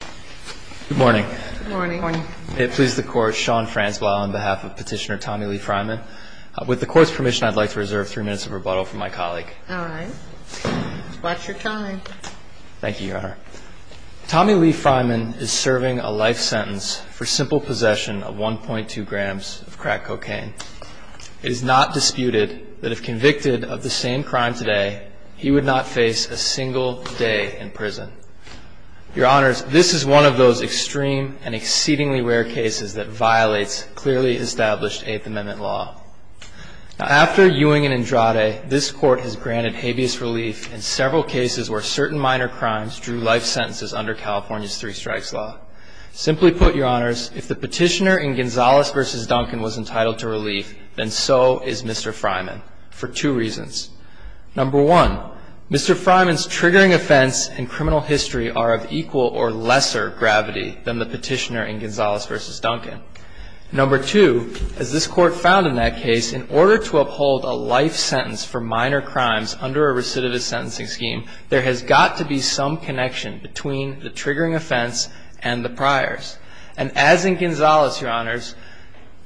Good morning. Good morning. May it please the Court, Sean Franswell on behalf of Petitioner Tommy Lee Fryman. With the Court's permission, I'd like to reserve three minutes of rebuttal from my colleague. All right. Watch your time. Thank you, Your Honor. Tommy Lee Fryman is serving a life sentence for simple possession of 1.2 grams of crack cocaine. It is not disputed that if convicted of the same crime today, he would not face a single day in prison. Your Honors, this is one of those extreme and exceedingly rare cases that violates clearly established Eighth Amendment law. Now, after Ewing and Andrade, this Court has granted habeas relief in several cases where certain minor crimes drew life sentences under California's Three Strikes Law. Simply put, Your Honors, if the petitioner in Gonzalez v. Duncan was entitled to relief, then so is Mr. Fryman for two reasons. Number one, Mr. Fryman's triggering offense and criminal history are of equal or lesser gravity than the petitioner in Gonzalez v. Duncan. Number two, as this Court found in that case, in order to uphold a life sentence for minor crimes under a recidivist sentencing scheme, there has got to be some connection between the triggering offense and the priors. And as in Gonzalez, Your Honors,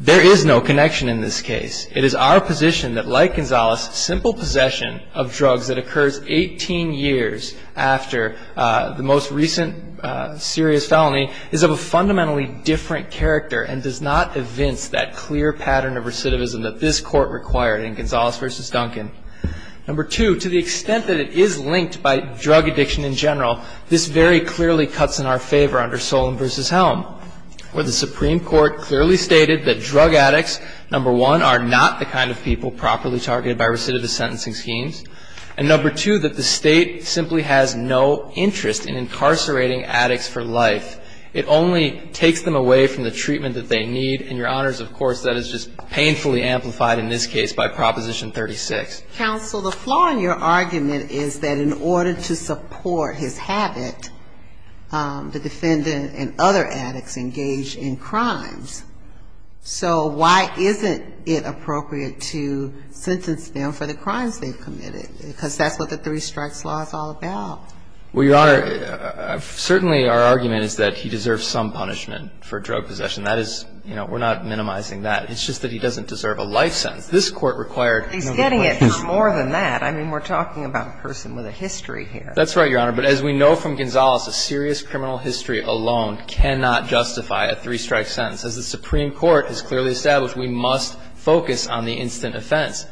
there is no connection in this case. It is our position that, like Gonzalez, simple possession of drugs that occurs 18 years after the most recent serious felony is of a fundamentally different character and does not evince that clear pattern of recidivism that this Court required in Gonzalez v. Duncan. Number two, to the extent that it is linked by drug addiction in general, this very clearly cuts in our favor under Solon v. Helm, where the Supreme Court clearly stated that drug addicts, number one, are not the kind of people properly targeted by recidivist sentencing schemes, and number two, that the State simply has no interest in incarcerating addicts for life. It only takes them away from the treatment that they need. And, Your Honors, of course, that is just painfully amplified in this case by Proposition 36. Counsel, the flaw in your argument is that in order to support his habit, the defendant and other addicts engage in crimes. So why isn't it appropriate to sentence them for the crimes they've committed? Because that's what the Three Strikes Law is all about. Well, Your Honor, certainly our argument is that he deserves some punishment for drug possession. That is, you know, we're not minimizing that. It's just that he doesn't deserve a life sentence. This Court required no more than that. He's getting it more than that. I mean, we're talking about a person with a history here. That's right, Your Honor. But as we know from Gonzalez, a serious criminal history alone cannot justify a three-strike sentence. As the Supreme Court has clearly established, we must focus on the instant offense.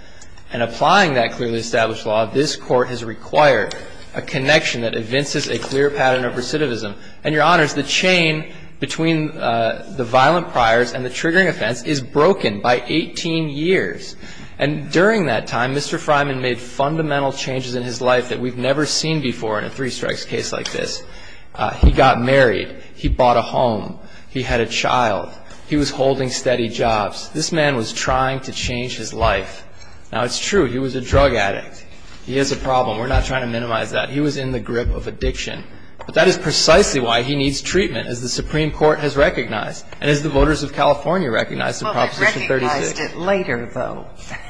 And applying that clearly established law, this Court has required a connection that evinces a clear pattern of recidivism. And, Your Honors, the chain between the violent priors and the triggering offense is broken by 18 years. And during that time, Mr. Freiman made fundamental changes in his life that we've never seen before in a three-strikes case like this. He got married. He bought a home. He had a child. He was holding steady jobs. This man was trying to change his life. Now, it's true. He was a drug addict. He has a problem. We're not trying to minimize that. He was in the grip of addiction. But that is precisely why he needs treatment, as the Supreme Court has recognized and as the voters of California recognized in Proposition 36. Well, they recognized it later, though.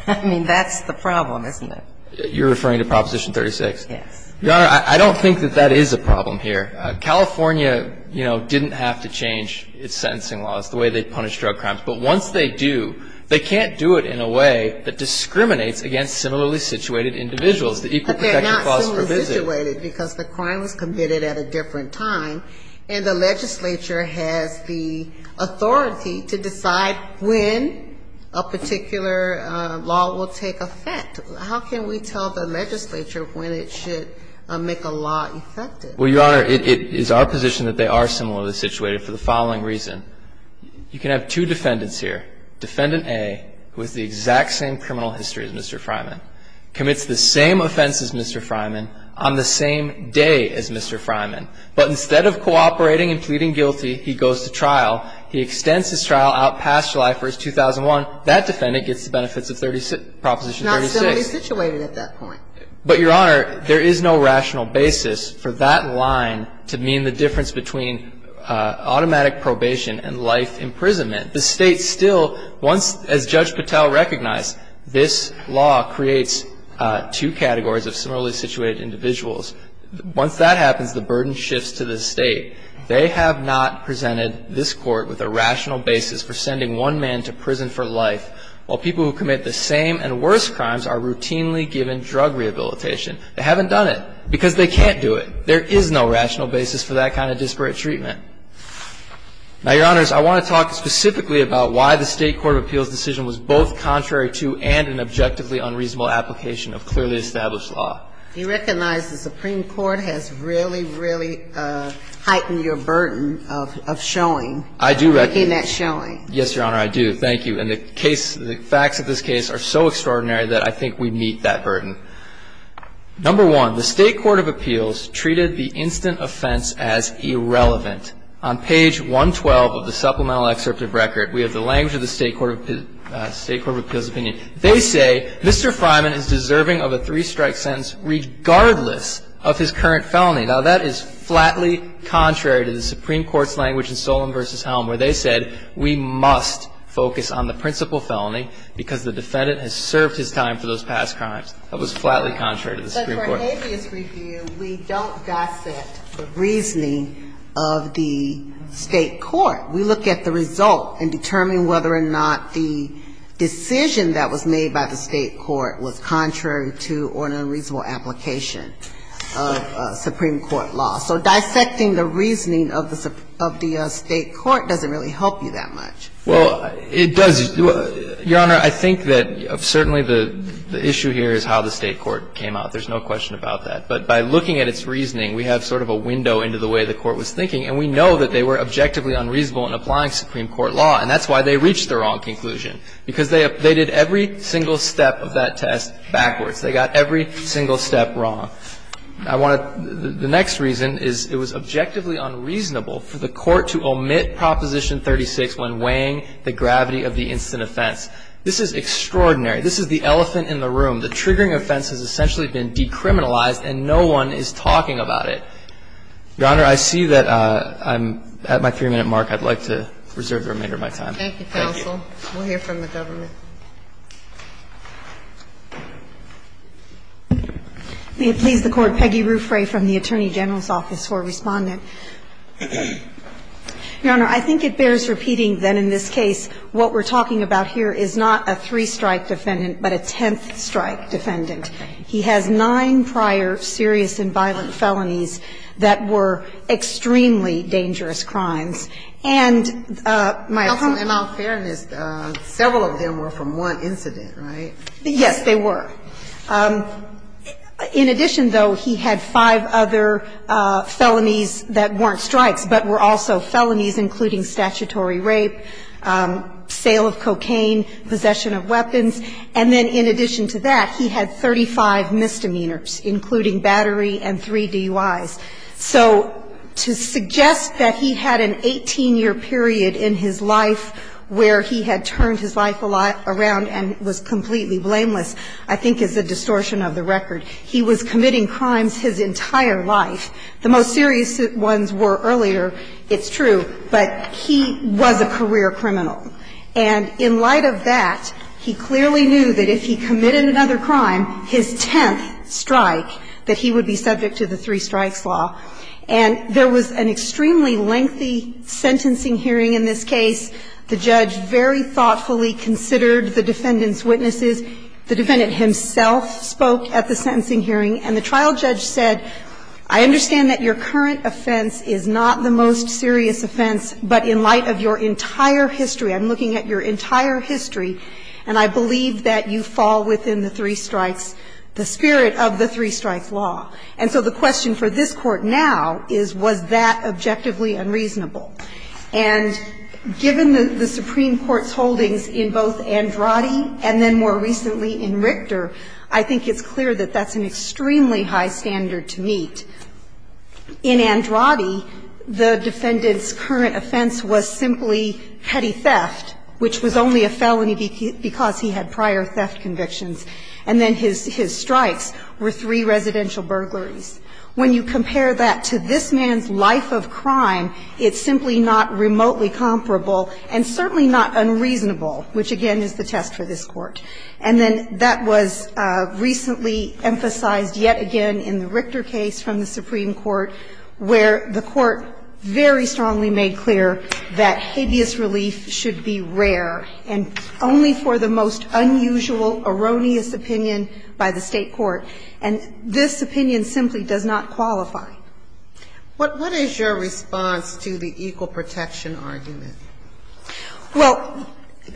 I mean, that's the problem, isn't it? You're referring to Proposition 36? Yes. Your Honor, I don't think that that is a problem here. California, you know, didn't have to change its sentencing laws, the way they punish drug crimes. But once they do, they can't do it in a way that discriminates against similarly situated individuals. But they're not similarly situated because the crime was committed at a different time, and the legislature has the authority to decide when a particular law will take effect. How can we tell the legislature when it should make a law effective? Well, Your Honor, it is our position that they are similarly situated for the following reason. You can have two defendants here. Defendant A, who has the exact same criminal history as Mr. Freiman, commits the same offense as Mr. Freiman on the same day as Mr. Freiman. But instead of cooperating and pleading guilty, he goes to trial. He extends his trial out past July 1, 2001. That defendant gets the benefits of Proposition 36. He's not similarly situated at that point. But, Your Honor, there is no rational basis for that line to mean the difference between automatic probation and life imprisonment. The State still, once, as Judge Patel recognized, this law creates two categories of similarly situated individuals. Once that happens, the burden shifts to the State. They have not presented this Court with a rational basis for sending one man to prison for life, while people who commit the same and worse crimes are routinely given drug rehabilitation. They haven't done it because they can't do it. There is no rational basis for that kind of disparate treatment. Now, Your Honors, I want to talk specifically about why the State Court of Appeals decision was both contrary to and an objectively unreasonable application of clearly established law. You recognize the Supreme Court has really, really heightened your burden of showing. I do recognize. In that showing. Yes, Your Honor, I do. Thank you. And the case, the facts of this case are so extraordinary that I think we meet that burden. Number one, the State Court of Appeals treated the instant offense as irrelevant. On page 112 of the supplemental excerpt of record, we have the language of the State Court of Appeals opinion. They say, Mr. Fryman is deserving of a three-strike sentence regardless of his current felony. Now, that is flatly contrary to the Supreme Court's language in Solemn v. Helm, where they said we must focus on the principal felony because the defendant has served his time for those past crimes. That was flatly contrary to the Supreme Court. But for habeas review, we don't dissect the reasoning of the State court. We look at the result and determine whether or not the decision that was made by the State court was contrary to or an unreasonable application of Supreme Court law. So dissecting the reasoning of the State court doesn't really help you that much. Well, it does. Your Honor, I think that certainly the issue here is how the State court came out. There's no question about that. But by looking at its reasoning, we have sort of a window into the way the court was thinking, and we know that they were objectively unreasonable in applying Supreme Court law. And that's why they reached the wrong conclusion, because they did every single step of that test backwards. They got every single step wrong. I want to – the next reason is it was objectively unreasonable for the court to omit Proposition 36 when weighing the gravity of the instant offense. This is extraordinary. This is the elephant in the room. The triggering offense has essentially been decriminalized, and no one is talking about it. Your Honor, I see that I'm at my 3-minute mark. I'd like to reserve the remainder of my time. Thank you. Thank you, counsel. We'll hear from the government. May it please the Court. Peggy Ruffray from the Attorney General's Office for Respondent. Your Honor, I think it bears repeating that in this case what we're talking about here is not a three-strike defendant, but a tenth-strike defendant. He has nine prior serious and violent felonies that were extremely dangerous crimes. And my opponent – Counsel, in all fairness, several of them were from one incident, right? Yes, they were. In addition, though, he had five other felonies that weren't strikes but were also felonies, including statutory rape, sale of cocaine, possession of weapons. And then in addition to that, he had 35 misdemeanors, including battery and three DUIs. So to suggest that he had an 18-year period in his life where he had turned his life around and was completely blameless I think is a distortion of the record. He was committing crimes his entire life. The most serious ones were earlier, it's true, but he was a career criminal. And in light of that, he clearly knew that if he committed another crime, his tenth strike, that he would be subject to the three strikes law. And there was an extremely lengthy sentencing hearing in this case. The judge very thoughtfully considered the defendant's witnesses. The defendant himself spoke at the sentencing hearing, and the trial judge said, I understand that your current offense is not the most serious offense, but in light of your entire history, I'm looking at your entire history, and I believe that you are subject to the three strikes law. And so the question for this Court now is, was that objectively unreasonable? And given the Supreme Court's holdings in both Andrade and then more recently in Richter, I think it's clear that that's an extremely high standard to meet. In Andrade, the defendant's current offense was simply petty theft, which was only a felony because he had prior theft convictions. And then his strikes were three residential burglaries. When you compare that to this man's life of crime, it's simply not remotely comparable and certainly not unreasonable, which, again, is the test for this Court. And then that was recently emphasized yet again in the Richter case from the Supreme Court, where the Court very strongly made clear that habeas relief should be rare and only for the most unusual, erroneous opinion by the State court. And this opinion simply does not qualify. What is your response to the equal protection argument? Well,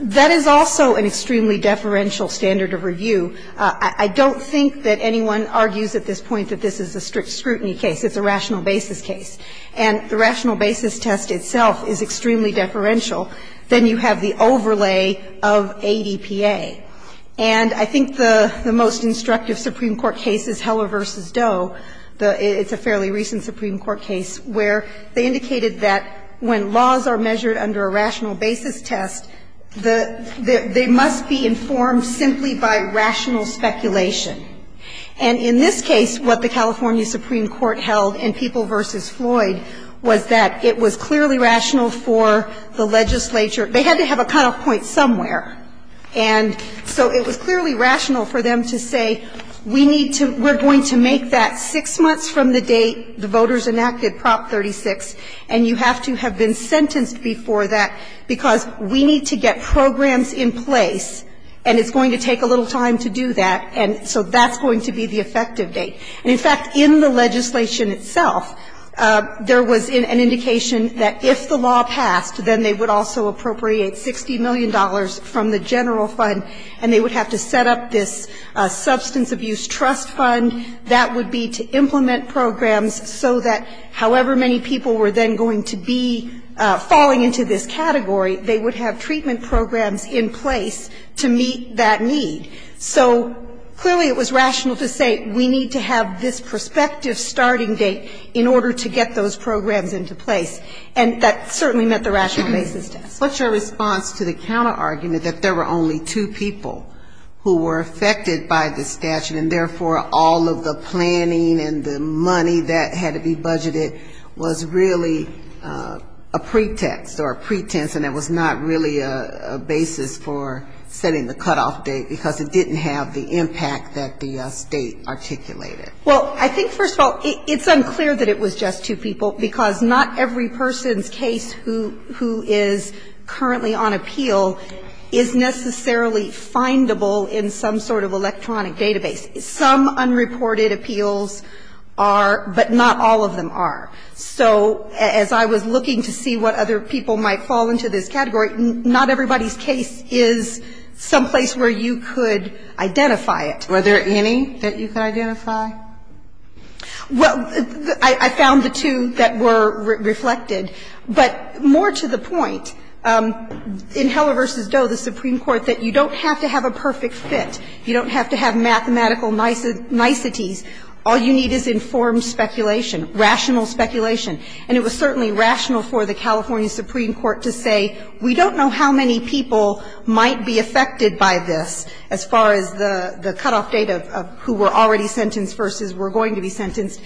that is also an extremely deferential standard of review. I don't think that anyone argues at this point that this is a strict scrutiny case. It's a rational basis case. And the rational basis test itself is extremely deferential. Then you have the overlay of ADPA. And I think the most instructive Supreme Court case is Heller v. Doe. It's a fairly recent Supreme Court case where they indicated that when laws are measured under a rational basis test, they must be informed simply by rational speculation. And in this case, what the California Supreme Court held in People v. Floyd was that it was clearly rational for the legislature. They had to have a cutoff point somewhere. And so it was clearly rational for them to say, we need to we're going to make that six months from the date the voters enacted Prop 36, and you have to have been sentenced before that because we need to get programs in place, and it's going to take a little time to do that, and so that's going to be the effective date. And in fact, in the legislation itself, there was an indication that if the law passed, then they would also appropriate $60 million from the general fund, and they would have to set up this substance abuse trust fund. That would be to implement programs so that however many people were then going to be falling into this category, they would have treatment programs in place to meet that need. So clearly it was rational to say we need to have this prospective starting date in order to get those programs into place, and that certainly met the rational basis. What's your response to the counterargument that there were only two people who were affected by the statute, and therefore all of the planning and the money that had to be budgeted was really a pretext or a pretense and it was not really a basis for setting the cutoff date because it didn't have the impact that the State articulated? Well, I think first of all, it's unclear that it was just two people, because not every person's case who is currently on appeal is necessarily findable in some sort of electronic database. Some unreported appeals are, but not all of them are. So as I was looking to see what other people might fall into this category, not everybody's case is some place where you could identify it. Were there any that you could identify? Well, I found the two that were reflected. But more to the point, in Heller v. Doe, the Supreme Court said you don't have to have a perfect fit. You don't have to have mathematical niceties. All you need is informed speculation, rational speculation. And it was certainly rational for the California Supreme Court to say we don't know how many people might be affected by this as far as the cutoff date of who were already sentenced versus were going to be sentenced.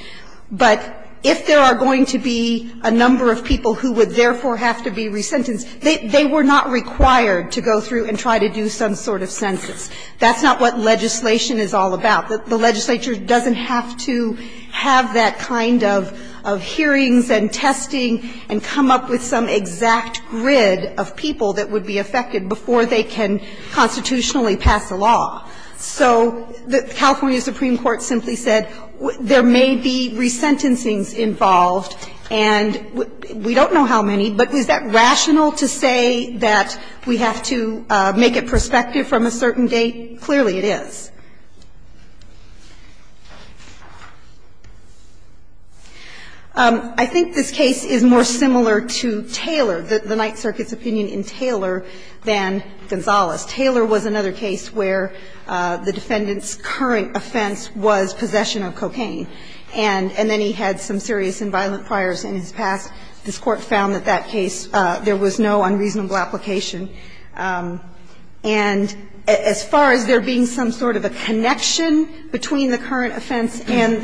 But if there are going to be a number of people who would therefore have to be resentenced, they were not required to go through and try to do some sort of census. That's not what legislation is all about. The legislature doesn't have to have that kind of hearings and testing and come up with some exact grid of people that would be affected before they can constitutionally pass a law. So the California Supreme Court simply said there may be resentencings involved and we don't know how many, but is that rational to say that we have to make it prospective from a certain date? Clearly it is. I think this case is more similar to Taylor, the Ninth Circuit's opinion in Taylor than Gonzales. Taylor was another case where the defendant's current offense was possession of cocaine. And then he had some serious and violent priors in his past. This Court found that that case, there was no unreasonable application. And as far as there being some sort of a connection between the current offense and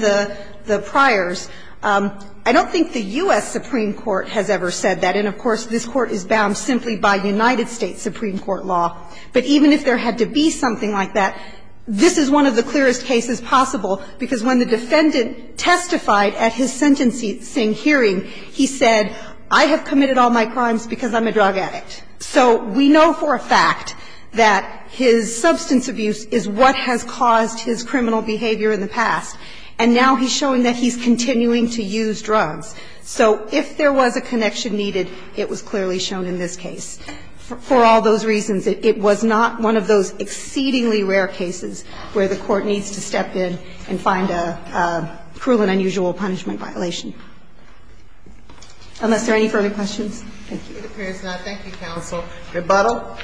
the priors, I don't think the U.S. Supreme Court has ever said that. And, of course, this Court is bound simply by United States Supreme Court law. But even if there had to be something like that, this is one of the clearest cases possible, because when the defendant testified at his sentencing hearing, he said, I have committed all my crimes because I'm a drug addict. So we know for a fact that his substance abuse is what has caused his criminal behavior in the past. And now he's showing that he's continuing to use drugs. So if there was a connection needed, it was clearly shown in this case. For all those reasons, it was not one of those exceedingly rare cases where the Court needs to step in and find a cruel and unusual punishment violation. Unless there are any further questions. Thank you. It appears not. Thank you, counsel. Rebuttal.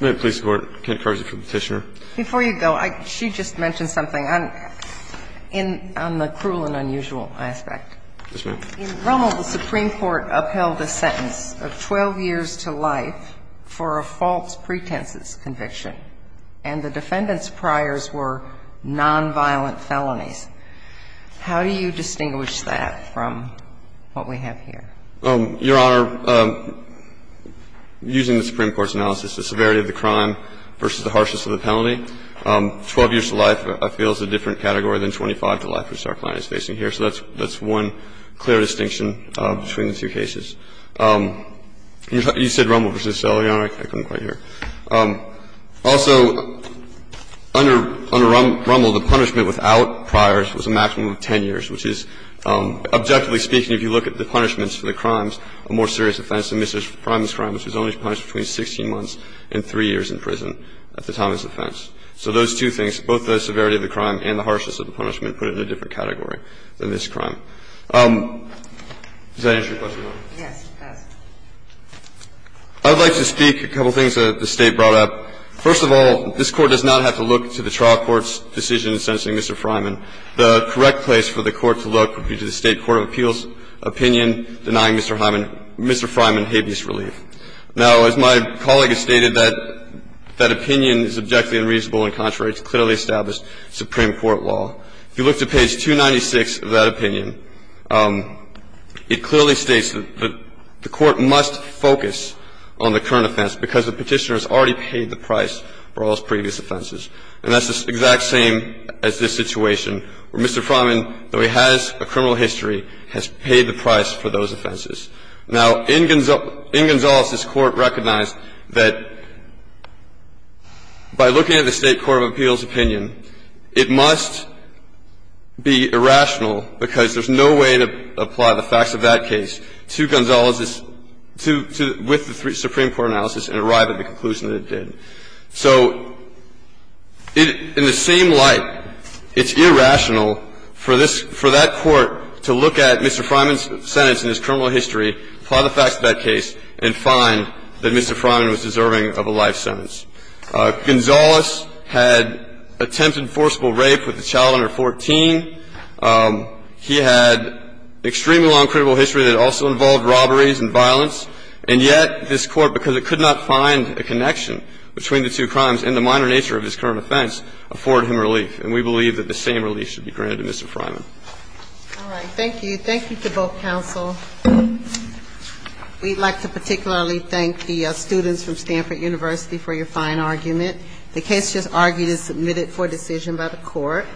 May I please have a word? Kent Carsey for the Petitioner. Before you go, she just mentioned something on the cruel and unusual aspect. Yes, ma'am. In Rommel, the Supreme Court upheld the sentence of 12 years to life for a false pretences conviction, and the defendant's priors were nonviolent felonies. How do you distinguish that from what we have here? Your Honor, using the Supreme Court's analysis, the severity of the crime versus the harshness of the penalty, 12 years to life, I feel, is a different category than 25 to life, which our client is facing here. So that's one clear distinction between the two cases. You said Rommel versus Selle, Your Honor. I couldn't quite hear. Also, under Rommel, the punishment without priors was a maximum of 10 years, which is, objectively speaking, if you look at the punishments for the crimes, a more serious offense than Mr. Prime's crime, which was only punished between 16 months and 3 years in prison at the time of his offense. So those two things, both the severity of the crime and the harshness of the punishment, put it in a different category than this crime. Does that answer your question, Your Honor? Yes, it does. I would like to speak to a couple of things that the State brought up. First of all, this Court does not have to look to the trial court's decision in sentencing Mr. Freiman. The correct place for the Court to look would be to the State court of appeals opinion denying Mr. Freiman habeas relief. Now, as my colleague has stated, that opinion is objectively unreasonable and contrary to clearly established Supreme Court law. If you look to page 296 of that opinion, it clearly states that the Court must focus on the current offense because the Petitioner has already paid the price for all his previous offenses. And that's the exact same as this situation where Mr. Freiman, though he has a criminal history, has paid the price for those offenses. Now, in Gonzales, this Court recognized that by looking at the State court of appeals opinion, it must be irrational because there's no way to apply the facts of that case to Gonzales' to the – with the Supreme Court analysis and arrive at the conclusion that it did. So in the same light, it's irrational for this – for that Court to look at Mr. Freiman's sentence and his criminal history, apply the facts of that case, and find that Mr. Freiman was deserving of a life sentence. Gonzales had attempted forcible rape with a child under 14. He had extremely long criminal history that also involved robberies and violence. And yet, this Court, because it could not find a connection between the two crimes and the minor nature of his current offense, afforded him relief. And we believe that the same relief should be granted to Mr. Freiman. All right. Thank you. Thank you to both counsel. We'd like to particularly thank the students from Stanford University for your fine argument. The case just argued is submitted for decision by the Court.